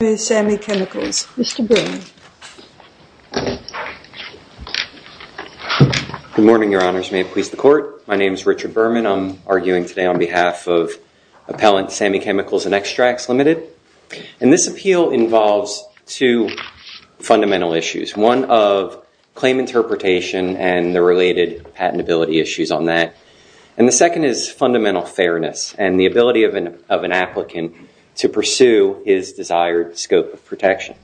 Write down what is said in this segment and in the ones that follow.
Good morning, Your Honours, and may it please the Court. My name is Richard Berman. I am arguing today on behalf of Appellant Sami Chemicals and Extracts, Ltd. And this appeal involves two fundamental issues. One of claim interpretation and the related patentability issues on that. And the second is fundamental fairness and the ability of an applicant to pursue his desired scope of protection.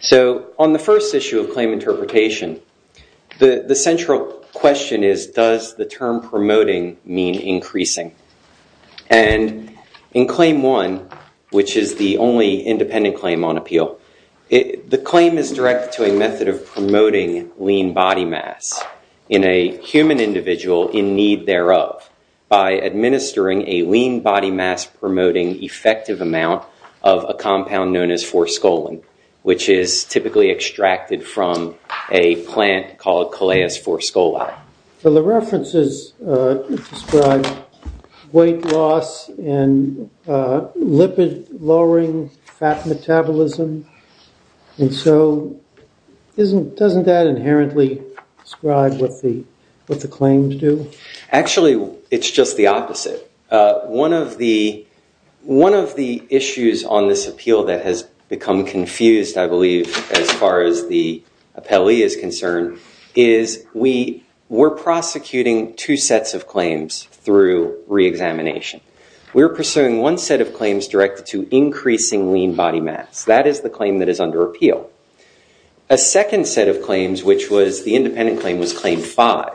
So on the first issue of claim interpretation, the central question is, does the term promoting mean increasing? And in claim one, which is the only independent claim on appeal, the claim is directed to a method of promoting lean body mass in a human individual in need thereof by administering a lean body mass promoting effective amount of a compound known as 4-Scolin, which is typically extracted from a plant called Coleus 4-Scoli. Well, the references describe weight loss and lipid-lowering fat metabolism. And so doesn't that inherently describe what the claims do? Actually, it's just the opposite. One of the issues on this appeal that has become confused, I believe, as far as the appellee is concerned, is we're prosecuting two sets of claims through re-examination. We're pursuing one set of claims directed to increasing lean body mass. That is the claim that is under appeal. A second set of claims, which was the independent claim was claim five,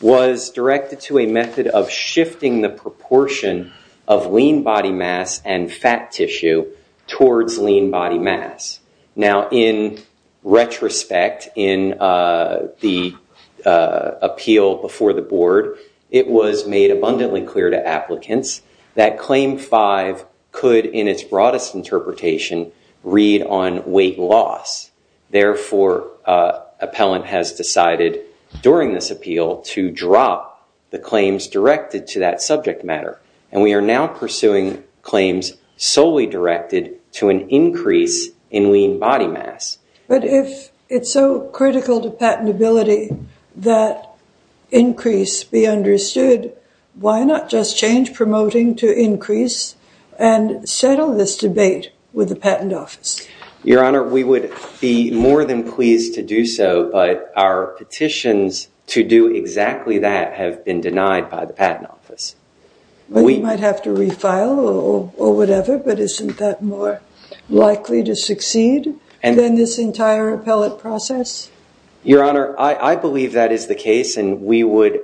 was directed to a method of shifting the proportion of lean body mass and fat tissue towards lean body mass. Now in retrospect, in the appeal before the board, it was made abundantly clear to applicants that claim five could, in its broadest interpretation, read on weight loss. Therefore, appellant has decided during this appeal to drop the claims directed to that subject matter. And we are now pursuing claims solely directed to an increase in lean body mass. But if it's so critical to patentability that increase be understood, why not just change promoting to increase and settle this debate with the patent office? Your Honor, we would be more than pleased to do so. But our petitions to do exactly that have been denied by the patent office. We might have to refile or whatever. But isn't that more likely to succeed than this entire appellate process? Your Honor, I believe that is the case. And we would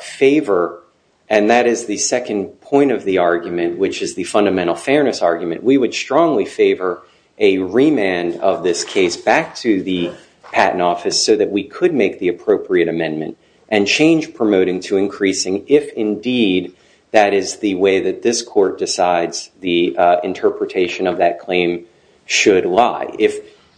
favor, and that is the second point of the argument, which is the fundamental fairness argument, we would strongly favor a remand of this case back to the patent office so that we could make the appropriate amendment and change promoting to increasing if indeed that is the way that this court decides the interpretation of that claim should lie.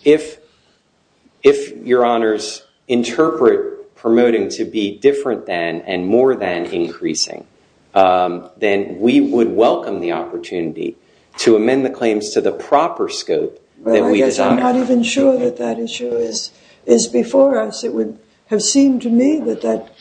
If Your Honors interpret promoting to be different than and more than increasing, then we would welcome the opportunity to amend the claims to the proper scope. But I guess I'm not even sure that that issue is before us. It would have seemed to me that that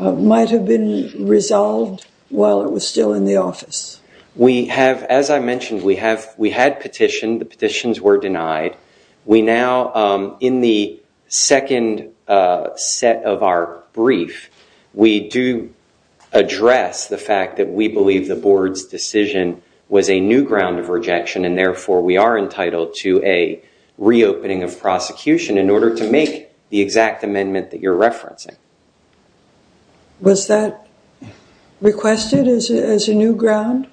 might have been resolved while it was still in the office. As I mentioned, we had petitioned. The petitions were denied. We now, in the second set of our brief, we do address the fact that we believe the board's decision was a new ground of rejection. And therefore, we are entitled to a reopening of prosecution in order to make the exact amendment that you're referencing. Was that requested as a new ground?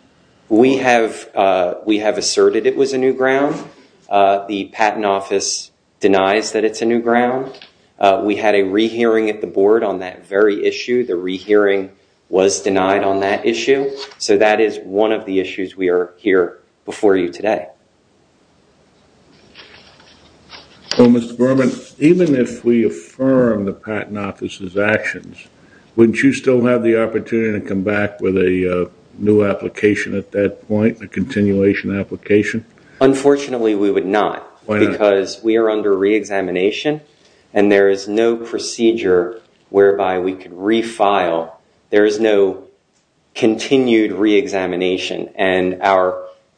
We have asserted it was a new ground. The patent office denies that it's a new ground. We had a rehearing at the board on that very issue. The rehearing was denied on that issue. So that is one of the issues we are here before you today. So Mr. Berman, even if we affirm the patent office's actions, wouldn't you still have the opportunity to come back with a new application at that point, a continuation application? Unfortunately, we would not. Because we are under reexamination and there is no procedure whereby we could refile. There is no continued reexamination. And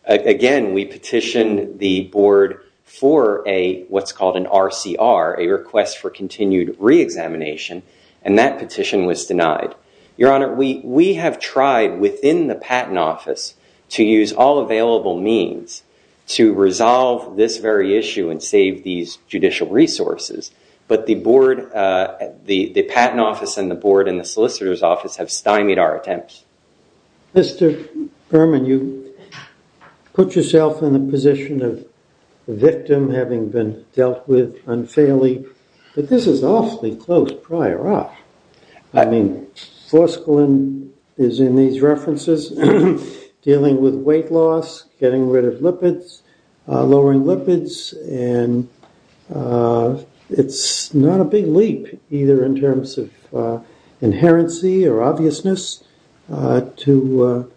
again, we petitioned the board for what's called an RCR, a request for continued reexamination. And that petition was denied. Your Honor, we have tried within the patent office to use all available means to resolve this very issue and save these judicial resources. But the board, the patent office and the board and the solicitor's office have stymied our attempts. Mr. Berman, you put yourself in the position of the victim having been dealt with unfairly. But this is awfully close prior up. I mean, Foskalen is in these references dealing with weight loss, getting rid of lipids, lowering lipids. And it's not a big leap either in terms of inherency or obviousness to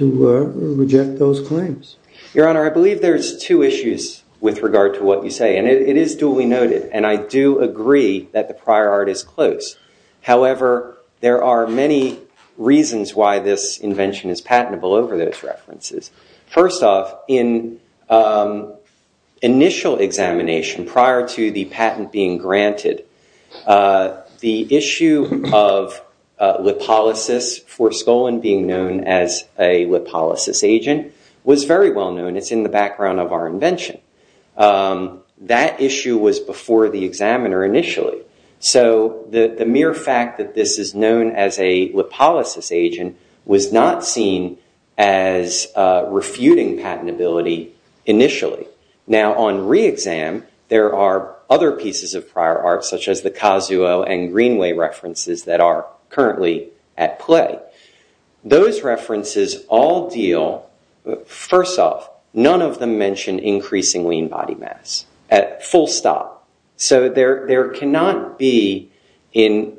reject those claims. Your Honor, I believe there's two issues with regard to what you say. And it is duly noted. And I do agree that the prior art is close. However, there are many reasons why this invention is patentable over those references. First off, in initial examination prior to the patent being granted, the issue of lipolysis for Foskalen being known as a lipolysis agent was very well known. It's in the background of our invention. That issue was before the examiner initially. So the mere fact that this is known as a lipolysis agent was not seen as refuting patentability initially. Now, on re-exam, there are other pieces of prior art, such as the Kazuo and Greenway references that are currently at play. Those references all deal, first off, none of them mention increasing lean body mass at full stop. So there cannot be, in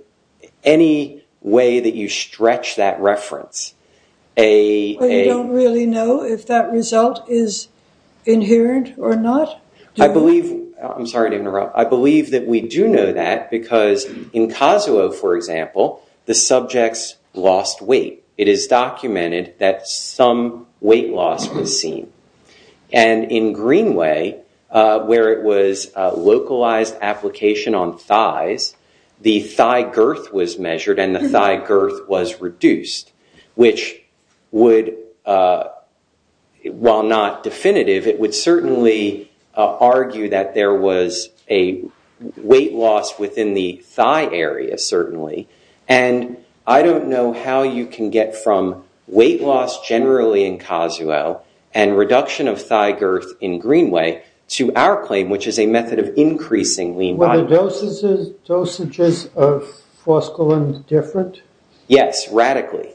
any way that you stretch that reference, a- But you don't really know if that result is inherent or not? I believe- I'm sorry to interrupt. I believe that we do know that because in Kazuo, for example, the subjects lost weight. And in Greenway, where it was a localized application on thighs, the thigh girth was measured and the thigh girth was reduced, which would, while not definitive, it would certainly argue that there was a weight loss within the thigh area, certainly. And I don't know how you can get from weight loss generally in Kazuo and reduction of thigh girth in Greenway to our claim, which is a method of increasing lean body- Were the dosages of forscolin different? Yes, radically.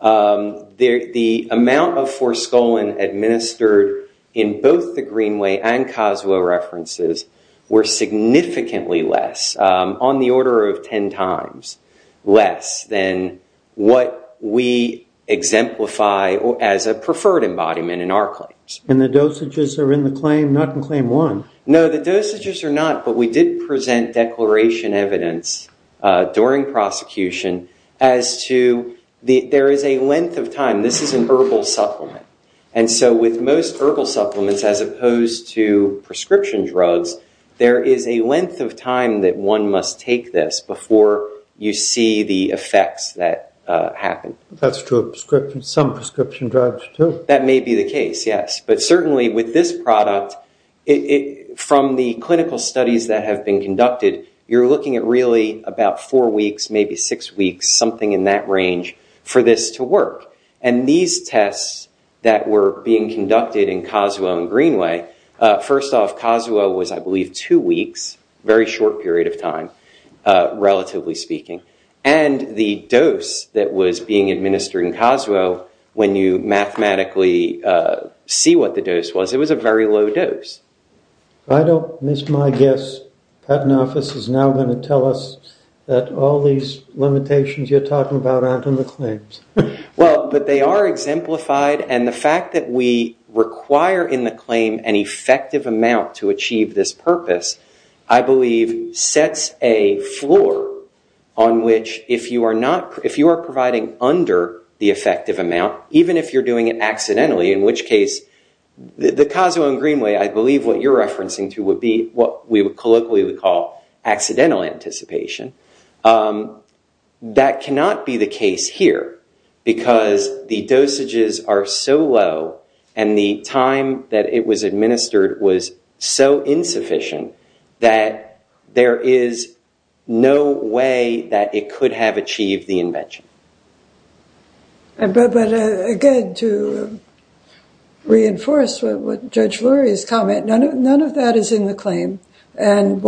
The amount of forscolin administered in both the Greenway and Kazuo references were significantly less, on the order of 10 times less than what we exemplify as a preferred embodiment in our claims. And the dosages are in the claim, not in claim one? No, the dosages are not, but we did present declaration evidence during prosecution as to- there is a length of time. This is an herbal supplement. And so with most herbal supplements, as opposed to prescription drugs, there is a length of time that one must take this before you see the effects that happen. That's true of some prescription drugs, too. That may be the case, yes. But certainly with this product, from the clinical studies that have been conducted, you're looking at really about four weeks, maybe six weeks, something in that range, for this to work. And these tests that were being conducted in Kazuo and Greenway, first off, Kazuo was, I believe, two weeks, very short period of time, relatively speaking. And the dose that was being administered in Kazuo, when you mathematically see what the dose was, it was a very low dose. If I don't miss my guess, Patton Office is now going to tell us that all these limitations you're talking about aren't in the claims. Well, but they are exemplified. And the fact that we require in the claim an effective amount to achieve this purpose, I believe, sets a floor on which, if you are providing under the effective amount, even if you're doing it accidentally, in which case, the Kazuo and Greenway, I believe what you're referencing to would be what we colloquially would call accidental anticipation. That cannot be the case here, because the dosages are so low and the time that it was administered was so insufficient that there is no way that it could have achieved the invention. But again, to reinforce what Judge Lurie's comment, none of that is in the claim. And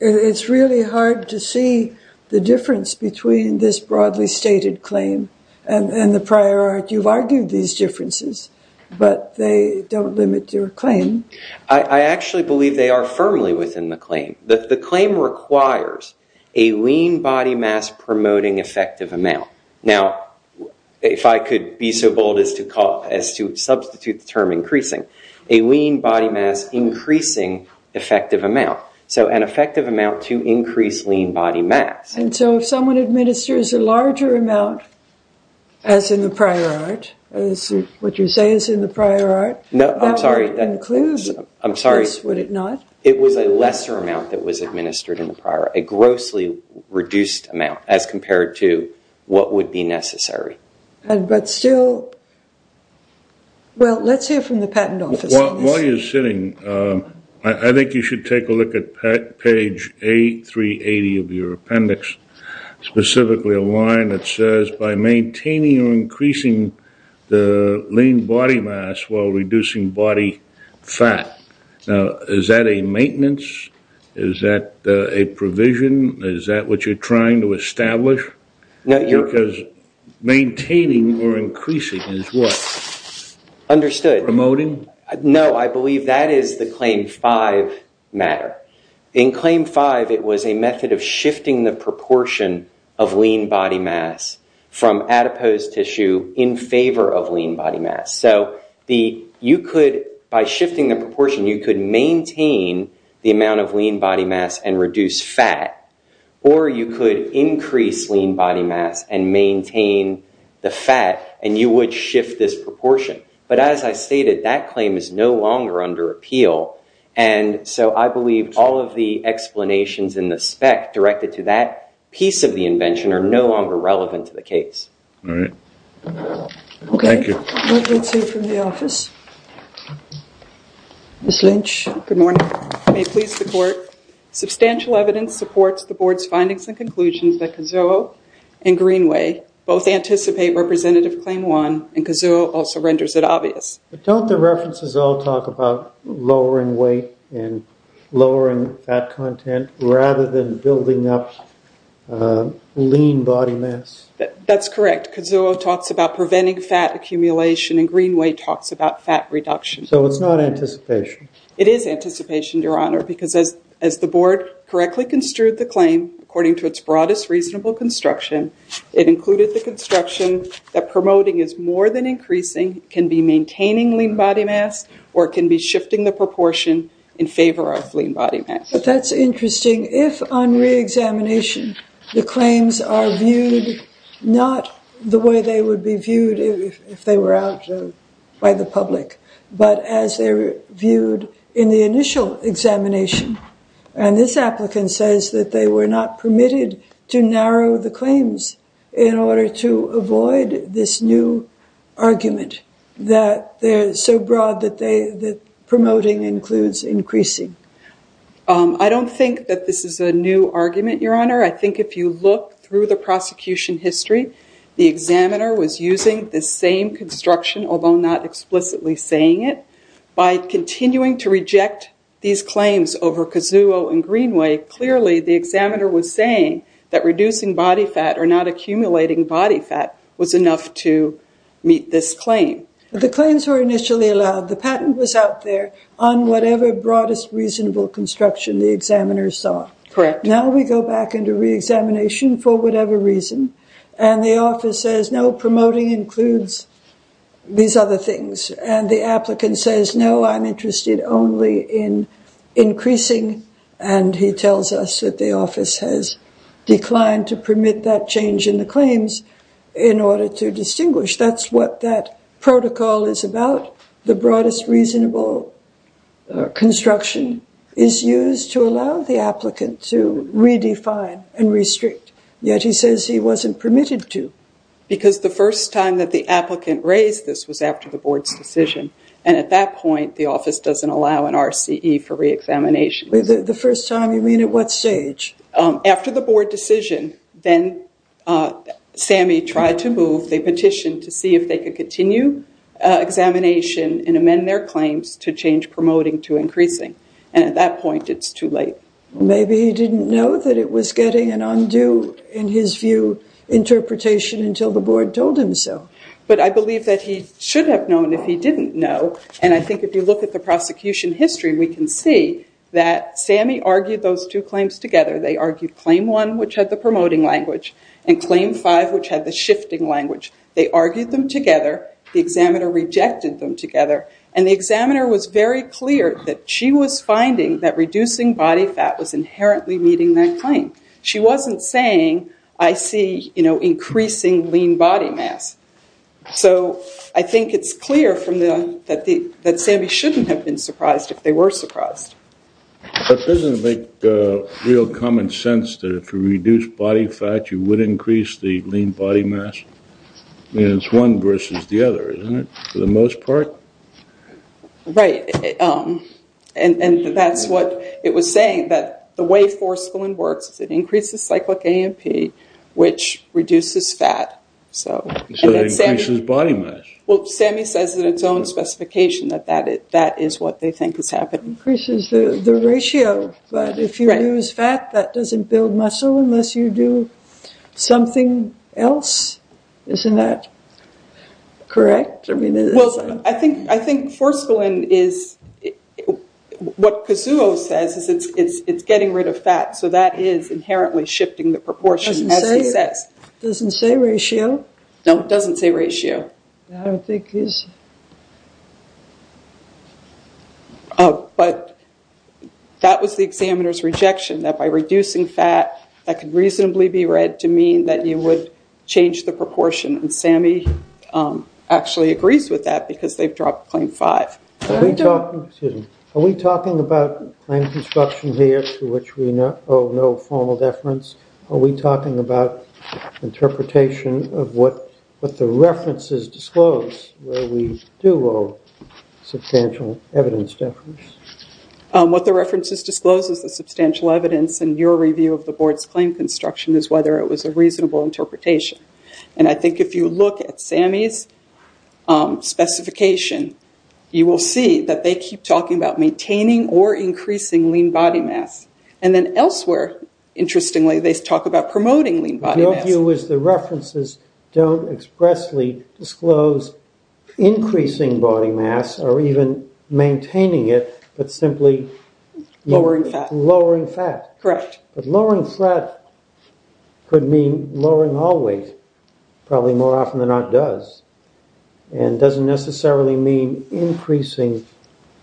it's really hard to see the difference between this broadly stated claim and the prior art. You've argued these differences, but they don't limit your claim. I actually believe they are firmly within the claim. The claim requires a lean body mass promoting effective amount. Now, if I could be so bold as to substitute the term increasing, a lean body mass increasing effective amount. So an effective amount to increase lean body mass. And so if someone administers a larger amount, as in the prior art, as what you say is in the prior art, that would include this, would it not? It was a lesser amount that was administered in the prior art, a grossly reduced amount as compared to what would be necessary. But still, well, let's hear from the patent office on this. While you're sitting, I think you should take a look at page A380 of your appendix, specifically a line that says, by maintaining or increasing the lean body mass while reducing body fat. Now, is that a maintenance? Is that a provision? Is that what you're trying to establish? Because maintaining or increasing is what? Understood. Promoting? No, I believe that is the Claim 5 matter. In Claim 5, it was a method of shifting the proportion of lean body mass from adipose tissue in favor of lean body mass. So you could, by shifting the proportion, you could maintain the amount of lean body mass and reduce fat. Or you could increase lean body mass and maintain the fat, and you would shift this proportion. But as I stated, that claim is no longer under appeal. And so I believe all of the explanations in the spec directed to that piece of the invention are no longer relevant to the case. All right. Thank you. Let's hear from the office. Ms. Lynch. Good morning. May it please the Court, substantial evidence supports the Board's findings and conclusions that Kizuo and Greenway both anticipate Representative Claim 1, and Kizuo also renders it obvious. Don't the references all talk about lowering weight and lowering fat content rather than building up lean body mass? That's correct. Kizuo talks about preventing fat accumulation, and Greenway talks about fat reduction. So it's not anticipation? It is anticipation, Your Honor, because as the Board correctly construed the claim, according to its broadest reasonable construction, it included the construction that promoting is maintaining lean body mass, or it can be shifting the proportion in favor of lean body mass. But that's interesting. If on reexamination the claims are viewed not the way they would be viewed if they were out by the public, but as they're viewed in the initial examination, and this applicant says that they were not permitted to narrow the claims in order to avoid this new argument, that they're so broad that promoting includes increasing? I don't think that this is a new argument, Your Honor. I think if you look through the prosecution history, the examiner was using the same construction, although not explicitly saying it. By continuing to reject these claims over Kizuo and Greenway, clearly the examiner was that reducing body fat or not accumulating body fat was enough to meet this claim. The claims were initially allowed. The patent was out there on whatever broadest reasonable construction the examiner saw. Correct. Now we go back into reexamination for whatever reason, and the office says, no, promoting includes these other things. And the applicant says, no, I'm interested only in increasing, and he tells us that the declined to permit that change in the claims in order to distinguish. That's what that protocol is about. The broadest reasonable construction is used to allow the applicant to redefine and restrict, yet he says he wasn't permitted to. Because the first time that the applicant raised this was after the board's decision, and at that point, the office doesn't allow an RCE for reexamination. The first time, you mean at what stage? After the board decision, then Sammy tried to move. They petitioned to see if they could continue examination and amend their claims to change promoting to increasing. And at that point, it's too late. Maybe he didn't know that it was getting an undue, in his view, interpretation until the board told him so. But I believe that he should have known if he didn't know. And I think if you look at the prosecution history, we can see that Sammy argued those two claims together. They argued claim one, which had the promoting language, and claim five, which had the shifting language. They argued them together. The examiner rejected them together. And the examiner was very clear that she was finding that reducing body fat was inherently meeting that claim. She wasn't saying, I see increasing lean body mass. So I think it's clear that Sammy shouldn't have been surprised if they were surprised. But doesn't it make real common sense that if you reduce body fat, you would increase the lean body mass? I mean, it's one versus the other, isn't it? For the most part? Right. And that's what it was saying, that the way forceful and works is it increases cyclic AMP, which reduces fat. So it increases body mass. Well, Sammy says in its own specification that that is what they think is happening. Increases the ratio. But if you use fat, that doesn't build muscle unless you do something else. Isn't that correct? I mean, I think forceful and is what Kazuo says is it's getting rid of fat. So that is inherently shifting the proportion, as he says. Doesn't say ratio. No, it doesn't say ratio. I don't think it is. But that was the examiner's rejection, that by reducing fat, that could reasonably be read to mean that you would change the proportion. And Sammy actually agrees with that because they've dropped claim five. Are we talking about claim construction here, to which we owe no formal deference? Are we talking about interpretation of what the references disclose, where we do owe substantial evidence deference? What the references disclose is the substantial evidence. And your review of the board's claim construction is whether it was a reasonable interpretation. And I think if you look at Sammy's specification, you will see that they keep talking about maintaining or increasing lean body mass. And then elsewhere, interestingly, they talk about promoting lean body mass. Your view is the references don't expressly disclose increasing body mass or even maintaining it, but simply lowering fat. Correct. But lowering fat could mean lowering all weight, probably more often than not does. And doesn't necessarily mean increasing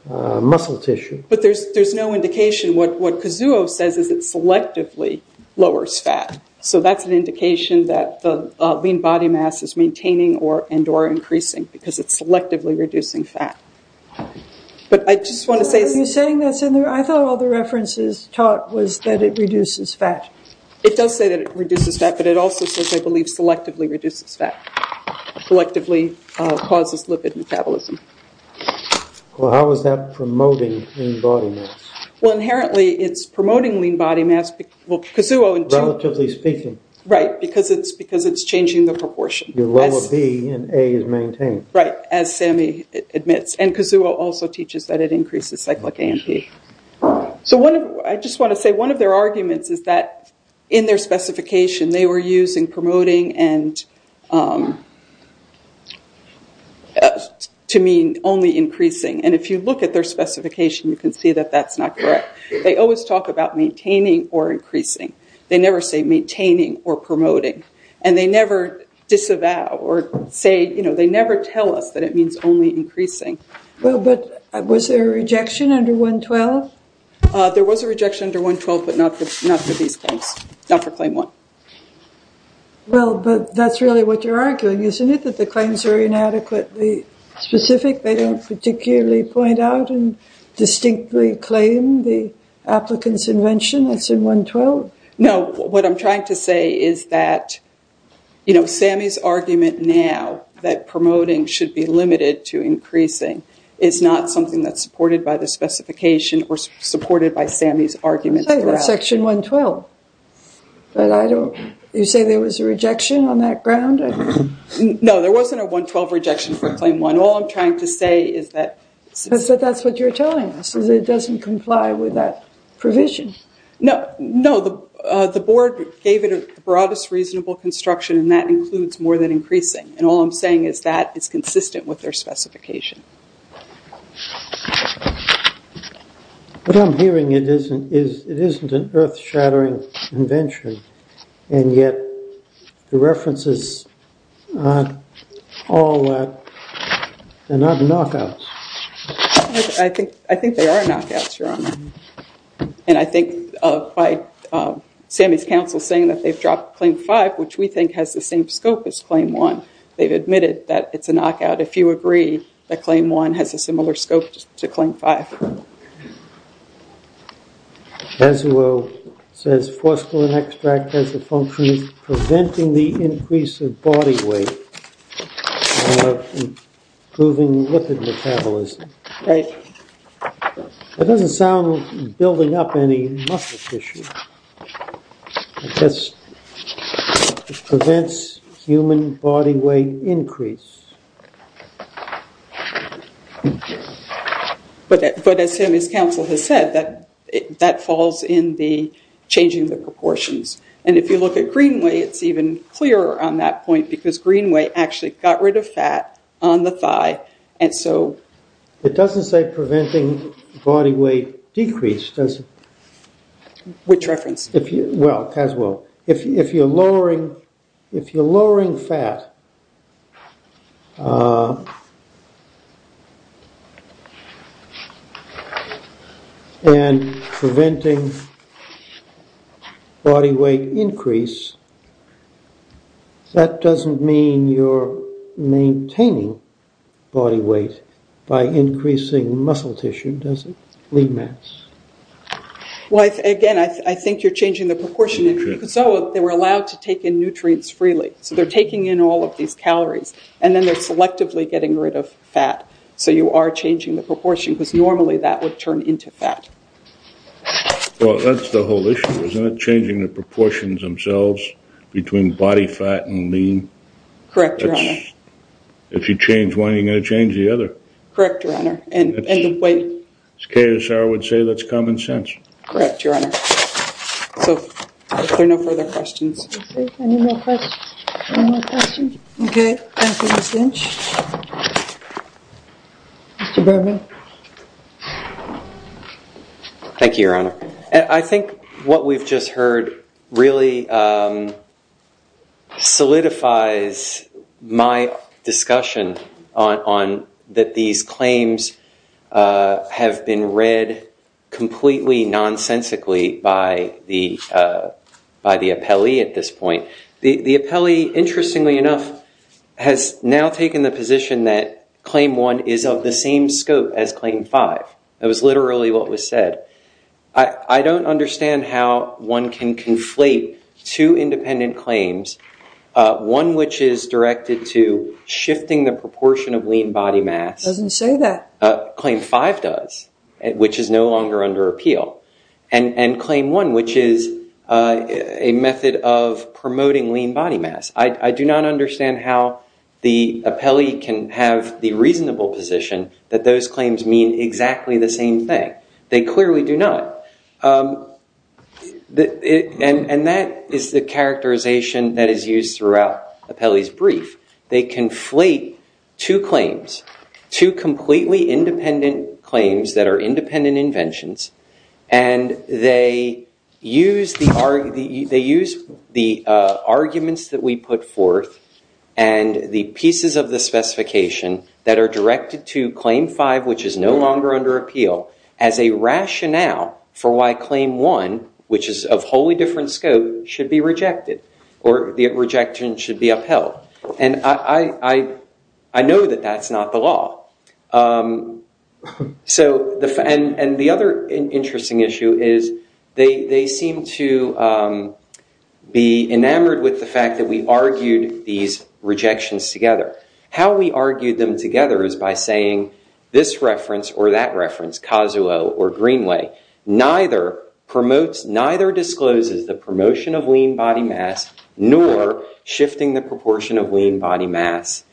muscle tissue. But there's no indication. What Kizuo says is it selectively lowers fat. So that's an indication that the lean body mass is maintaining and or increasing because it's selectively reducing fat. But I just want to say... Are you saying that's in there? I thought all the references taught was that it reduces fat. It does say that it reduces fat, but it also says, I believe, selectively reduces fat, selectively causes lipid metabolism. Well, how is that promoting lean body mass? Well, inherently, it's promoting lean body mass. Well, Kizuo... Relatively speaking. Right. Because it's changing the proportion. Your lower B and A is maintained. Right. As Sammy admits. And Kizuo also teaches that it increases cyclic A and B. So I just want to say one of their arguments is that in their specification, they were using promoting to mean only increasing. And if you look at their specification, you can see that that's not correct. They always talk about maintaining or increasing. They never say maintaining or promoting. And they never disavow or say... They never tell us that it means only increasing. Well, but was there a rejection under 112? There was a rejection under 112, but not for these claims. Not for claim one. Well, but that's really what you're arguing, isn't it, that the claims are inadequately specific? They don't particularly point out and distinctly claim the applicant's invention as in 112? No. What I'm trying to say is that, you know, Sammy's argument now that promoting should be limited to increasing is not something that's supported by the specification or supported by Sammy's argument. Section 112. But I don't... You say there was a rejection on that ground? No, there wasn't a 112 rejection for claim one. All I'm trying to say is that... That's what you're telling us, is it doesn't comply with that provision. No, the board gave it the broadest reasonable construction, and that includes more than increasing. And all I'm saying is that it's consistent with their specification. What I'm hearing is it isn't an earth-shattering invention, and yet the references aren't all that. They're not knockouts. I think they are knockouts, Your Honor. And I think by Sammy's counsel saying that they've dropped claim five, which we think has the same scope as claim one, they've admitted that it's a knockout. If you agree that claim one has a similar scope to claim five. Bezuo says phosphorine extract has the function of preventing the increase of body weight and improving lipid metabolism. That doesn't sound like building up any muscle tissue. It just prevents human body weight increase. But as Sammy's counsel has said, that falls in the changing the proportions. And if you look at Greenway, it's even clearer on that point, because Greenway actually got rid of fat on the thigh, and so... It doesn't say preventing body weight decrease, does it? Which reference? Well, Caswell, if you're lowering fat and preventing body weight increase, that doesn't mean you're maintaining body weight by increasing muscle tissue, does it? Lead mass. Well, again, I think you're changing the proportion. In Bezuo, they were allowed to take in nutrients freely. So they're taking in all of these calories, and then they're selectively getting rid of fat. So you are changing the proportion, because normally that would turn into fat. Well, that's the whole issue, isn't it? Changing the proportions themselves between body fat and lean. Correct, Your Honor. If you change one, you're going to change the other. Correct, Your Honor. And the weight. As KSR would say, that's common sense. Correct, Your Honor. So, are there no further questions? Any more questions? Any more questions? Okay. Mr. Berman? Thank you, Your Honor. I think what we've just heard really solidifies my discussion on that these claims have been read completely nonsensically by the appellee at this point. The appellee, interestingly enough, has now taken the position that Claim 1 is of the same scope as Claim 5. That was literally what was said. I don't understand how one can conflate two independent claims, one which is directed to shifting the proportion of lean body mass. Doesn't say that. Claim 5 does, which is no longer under appeal. And Claim 1, which is a method of promoting lean body mass. I do not understand how the appellee can have the reasonable position that those claims mean exactly the same thing. They clearly do not. And that is the characterization that is used throughout the appellee's brief. They conflate two claims, two completely independent claims that are independent inventions. And they use the arguments that we put forth and the pieces of the specification that are directed to Claim 5, which is no longer under appeal, as a rationale for why Claim 1, which is of wholly different scope, should be rejected. Or the rejection should be upheld. And I know that that's not the law. And the other interesting issue is they seem to be enamored with the fact that we argued these rejections together. How we argued them together is by saying, this reference or that reference, Cazuel or Greenway, neither discloses the promotion of lean body mass, nor shifting the proportion of lean body mass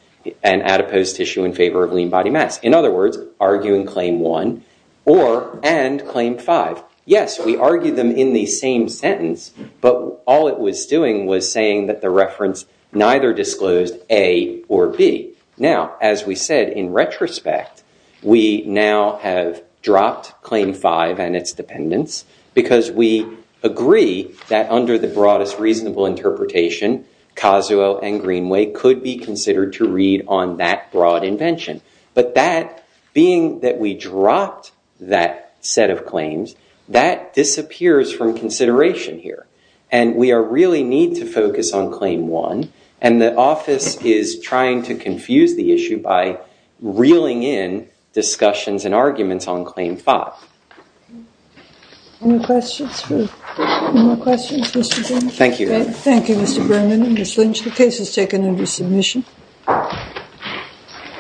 and adipose tissue in favor of lean body mass. In other words, arguing Claim 1 or and Claim 5. Yes, we argued them in the same sentence. But all it was doing was saying that the reference neither disclosed A or B. Now, as we said, in retrospect, we now have dropped Claim 5 and its dependence because we agree that under the broadest reasonable interpretation, Cazuel and Greenway could be considered to read on that broad invention. But that being that we dropped that set of claims, that disappears from consideration here. And we really need to focus on Claim 1. And the office is trying to confuse the issue by reeling in discussions and arguments on Claim 5. Any questions for Mr. Burman? Thank you. Thank you, Mr. Burman and Ms. Lynch. The case is taken under submission.